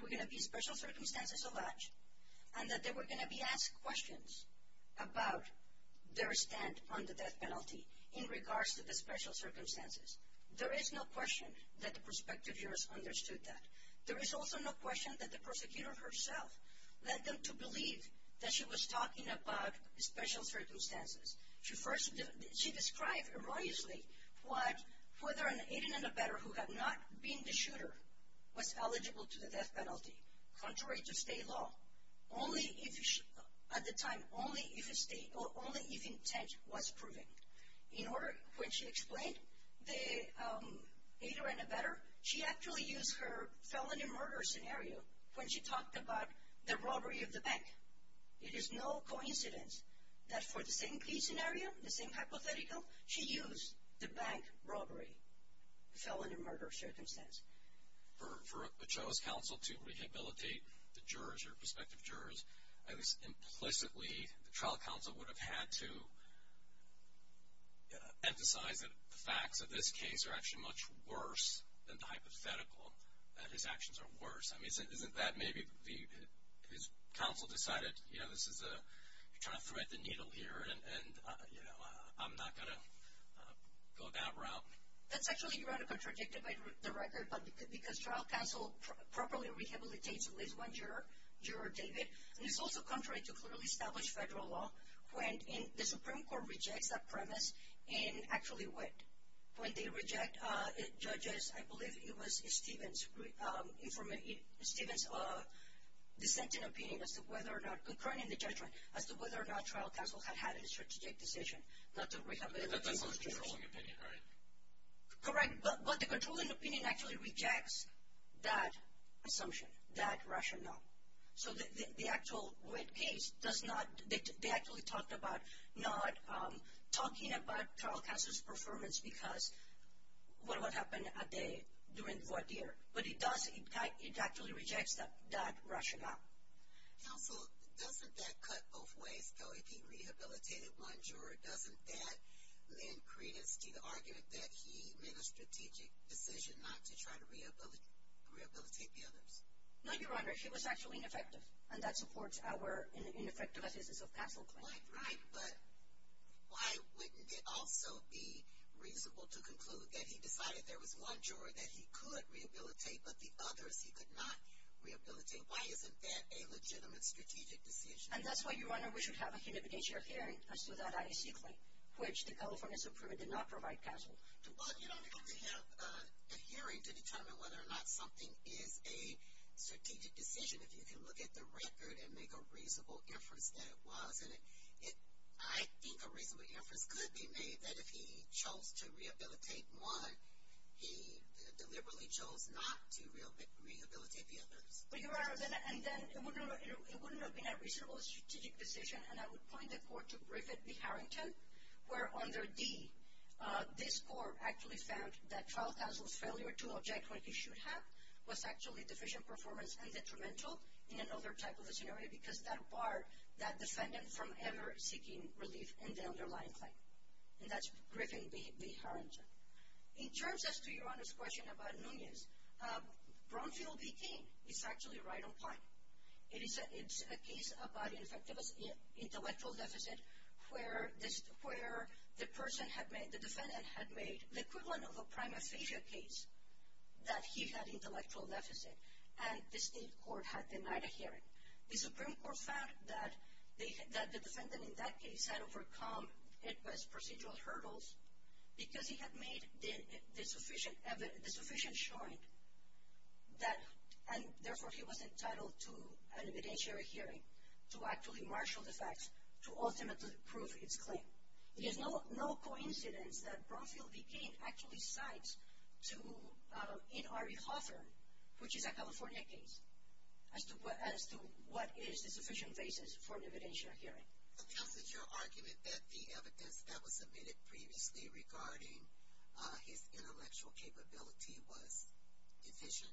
were going to be special circumstances of that, and that they were going to be asked questions about their stand on the death penalty in regards to the special circumstances. There is no question that the prospective jurors understood that. There is also no question that the prosecutor herself led them to believe that she was talking about special circumstances. She described erroneously whether an 18-and-a-better who had not been the shooter was eligible to the death penalty. Contrary to state law, at the time, only if intent was proven. In order, when she explained the 18-and-a-better, she actually used her felony murder scenario when she talked about the robbery of the bank. It is no coincidence that for the same key scenario, the same hypothetical, she used the bank robbery felony murder circumstance. For a child's counsel to rehabilitate the jurors or prospective jurors, at least implicitly, the trial counsel would have had to emphasize that the facts of this case are actually much worse than the hypothetical, that his actions are worse. I mean, isn't that maybe his counsel decided, you know, you're trying to thread the needle here, and I'm not going to go that route. That's actually kind of contradicted by the record, but because trial counsel properly rehabilitates at least one juror, David, and it's also contrary to clearly established federal law when the Supreme Court rejects that premise and actually when they reject judges, I believe it was Stephen's dissenting opinion as to whether or not, concurring the judgment, as to whether or not trial counsel had had a strategic decision not to rehabilitate. That's the controlling opinion, right? Correct, but the controlling opinion actually rejects that assumption, that rationale. So the actual wit case does not, they actually talked about not talking about trial counsel's performance because what would happen a day during what year, but it does, it actually rejects that rationale. Counsel, doesn't that cut both ways, though? If he rehabilitated one juror, doesn't that lend credence to the argument that he made a strategic decision not to try to rehabilitate the others? No, Your Honor, he was actually ineffective, and that supports our ineffective assistance of counsel claim. Right, right, but why wouldn't it also be reasonable to conclude that he decided there was one juror that he could rehabilitate, but the others he could not rehabilitate? Why isn't that a legitimate strategic decision? And that's why, Your Honor, we should have a unification of hearing as to that IAC claim, which the California Supreme Court did not provide counsel. Well, you don't have to have a hearing to determine whether or not something is a strategic decision if you can look at the record and make a reasonable inference that it was, and I think a reasonable inference could be made that if he chose to rehabilitate one, he deliberately chose not to rehabilitate the others. But, Your Honor, and then it wouldn't have been a reasonable strategic decision, and I would point the court to Griffith v. Harrington, where under D, this court actually found that trial counsel's failure to object when he should have was actually deficient performance and detrimental in another type of a scenario because that barred that defendant from ever seeking relief in the underlying claim. And that's Griffith v. Harrington. In terms as to Your Honor's question about Nunez, Brownfield v. Cain is actually right on point. It is a case about intellectual deficit where the person had made, the defendant had made, the equivalent of a prima facie case that he had intellectual deficit, and the state court had denied a hearing. The Supreme Court found that the defendant in that case had overcome, it was procedural hurdles, because he had made the sufficient showing that, and therefore he was entitled to an evidentiary hearing to actually marshal the facts to ultimately prove his claim. It is no coincidence that Brownfield v. Cain actually cites to N. R. E. Hoffer, which is a California case, as to what is the sufficient basis for an evidentiary hearing. And how is it your argument that the evidence that was submitted previously regarding his intellectual capability was deficient?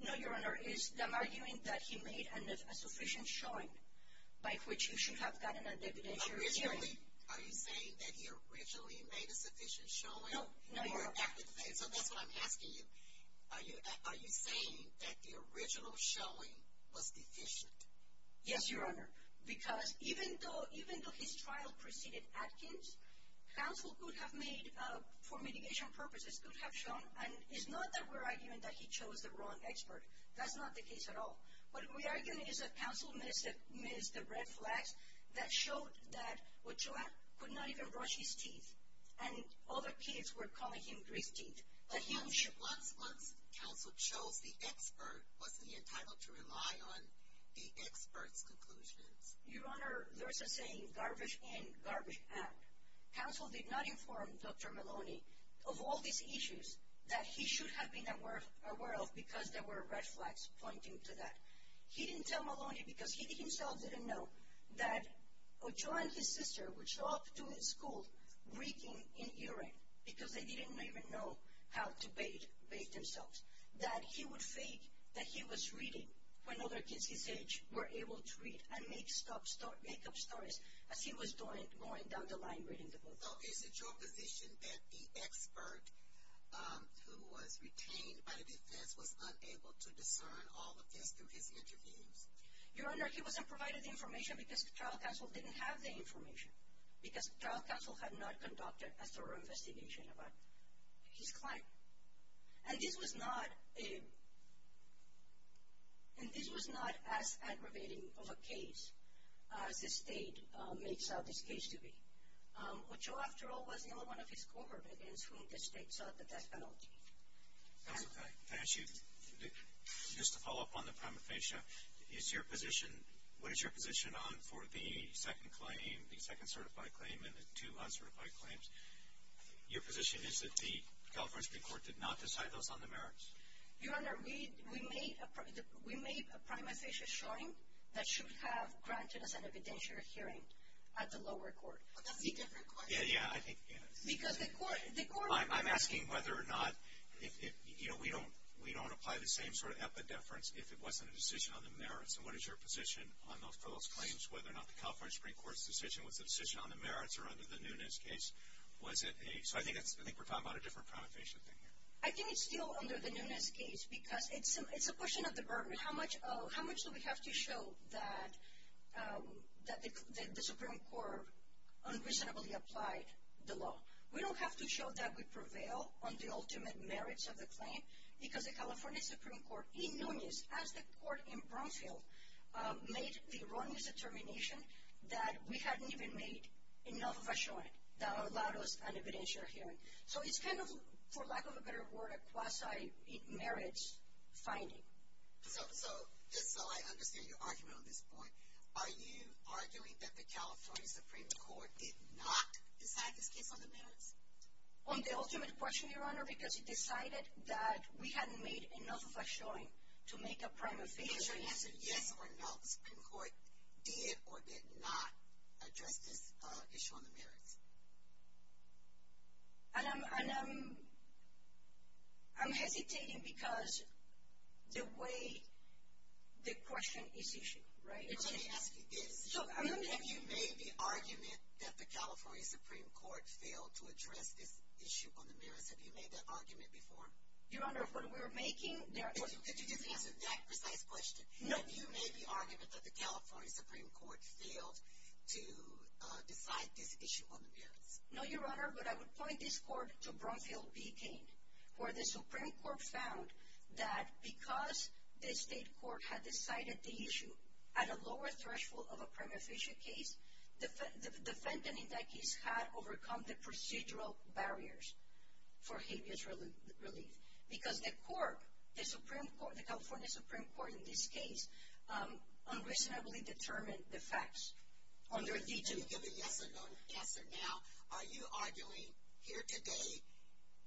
No, Your Honor. I'm arguing that he made a sufficient showing by which he should have gotten an evidentiary hearing. Are you saying that he originally made a sufficient showing? No, Your Honor. So that's what I'm asking you. Are you saying that the original showing was deficient? Yes, Your Honor, because even though his trial preceded Atkins, counsel could have made, for mitigation purposes, could have shown, and it's not that we're arguing that he chose the wrong expert. That's not the case at all. What we're arguing is that counsel missed the red flags that showed that Ochoa could not even brush his teeth, and other kids were calling him grease teeth. Once counsel chose the expert, wasn't he entitled to rely on the expert's conclusions? Your Honor, there is a saying, garbage in, garbage out. Counsel did not inform Dr. Maloney of all these issues that he should have been aware of because there were red flags pointing to that. He didn't tell Maloney because he himself didn't know that Ochoa and his sister would show up to his school reeking in urine because they didn't even know how to bathe themselves, that he would fake that he was reading when other kids his age were able to read and make up stories as he was going down the line reading the book. So is it your position that the expert who was retained by the defense was unable to discern all of this through his interviews? Your Honor, he wasn't provided the information because the trial counsel didn't have the information, because the trial counsel had not conducted a thorough investigation about his client. And this was not as aggravating of a case as the state made this case to be. Ochoa, after all, was the only one of his cohort against whom the state sought the death penalty. Counsel, can I ask you, just to follow up on the prima facie, Ochoa, what is your position on for the second claim, the second certified claim, and the two uncertified claims? Your position is that the California Supreme Court did not decide those on the merits? Your Honor, we made a prima facie assuring that should have granted us an evidentiary hearing at the lower court. But that's a different question. Yeah, yeah, I think it is. I'm asking whether or not, you know, we don't apply the same sort of epidefference if it wasn't a decision on the merits. And what is your position on those claims, whether or not the California Supreme Court's decision was a decision on the merits or under the Nunes case? So I think we're talking about a different kind of thing here. I think it's still under the Nunes case, because it's a question of the burden. Your Honor, how much do we have to show that the Supreme Court unreasonably applied the law? We don't have to show that we prevail on the ultimate merits of the claim, because the California Supreme Court in Nunes, as the court in Bromfield, made the erroneous determination that we hadn't even made enough of a showing that allowed us an evidentiary hearing. So it's kind of, for lack of a better word, a quasi merits finding. So, just so I understand your argument on this point, are you arguing that the California Supreme Court did not decide this case on the merits? On the ultimate question, Your Honor, because it decided that we hadn't made enough of a showing to make a primary hearing. Is your answer yes or no, the Supreme Court did or did not address this issue on the merits? And I'm hesitating, because the way the question is issued, right? Let me ask you this. Have you made the argument that the California Supreme Court failed to address this issue on the merits? Have you made that argument before? Your Honor, what we're making there... Did you just answer that precise question? Have you made the argument that the California Supreme Court failed to decide this issue on the merits? No, Your Honor, but I would point this court to Bromfield v. Cain, where the Supreme Court found that because the state court had decided the issue at a lower threshold of a prima facie case, the defendant in that case had overcome the procedural barriers for habeas relief. Because the court, the Supreme Court, the California Supreme Court in this case, unreasonably determined the facts under D-2. Give a yes or no answer now. Are you arguing here today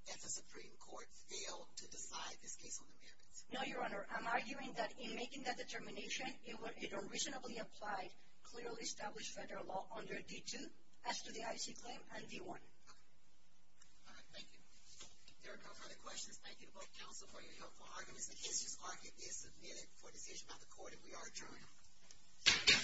that the Supreme Court failed to decide this case on the merits? No, Your Honor, I'm arguing that in making that determination, it unreasonably applied clearly established federal law under D-2 as to the IC claim and D-1. All right, thank you. If there are no further questions, thank you to both counsel for your helpful arguments, and it's just like it is submitted for decision by the court, and we are adjourned.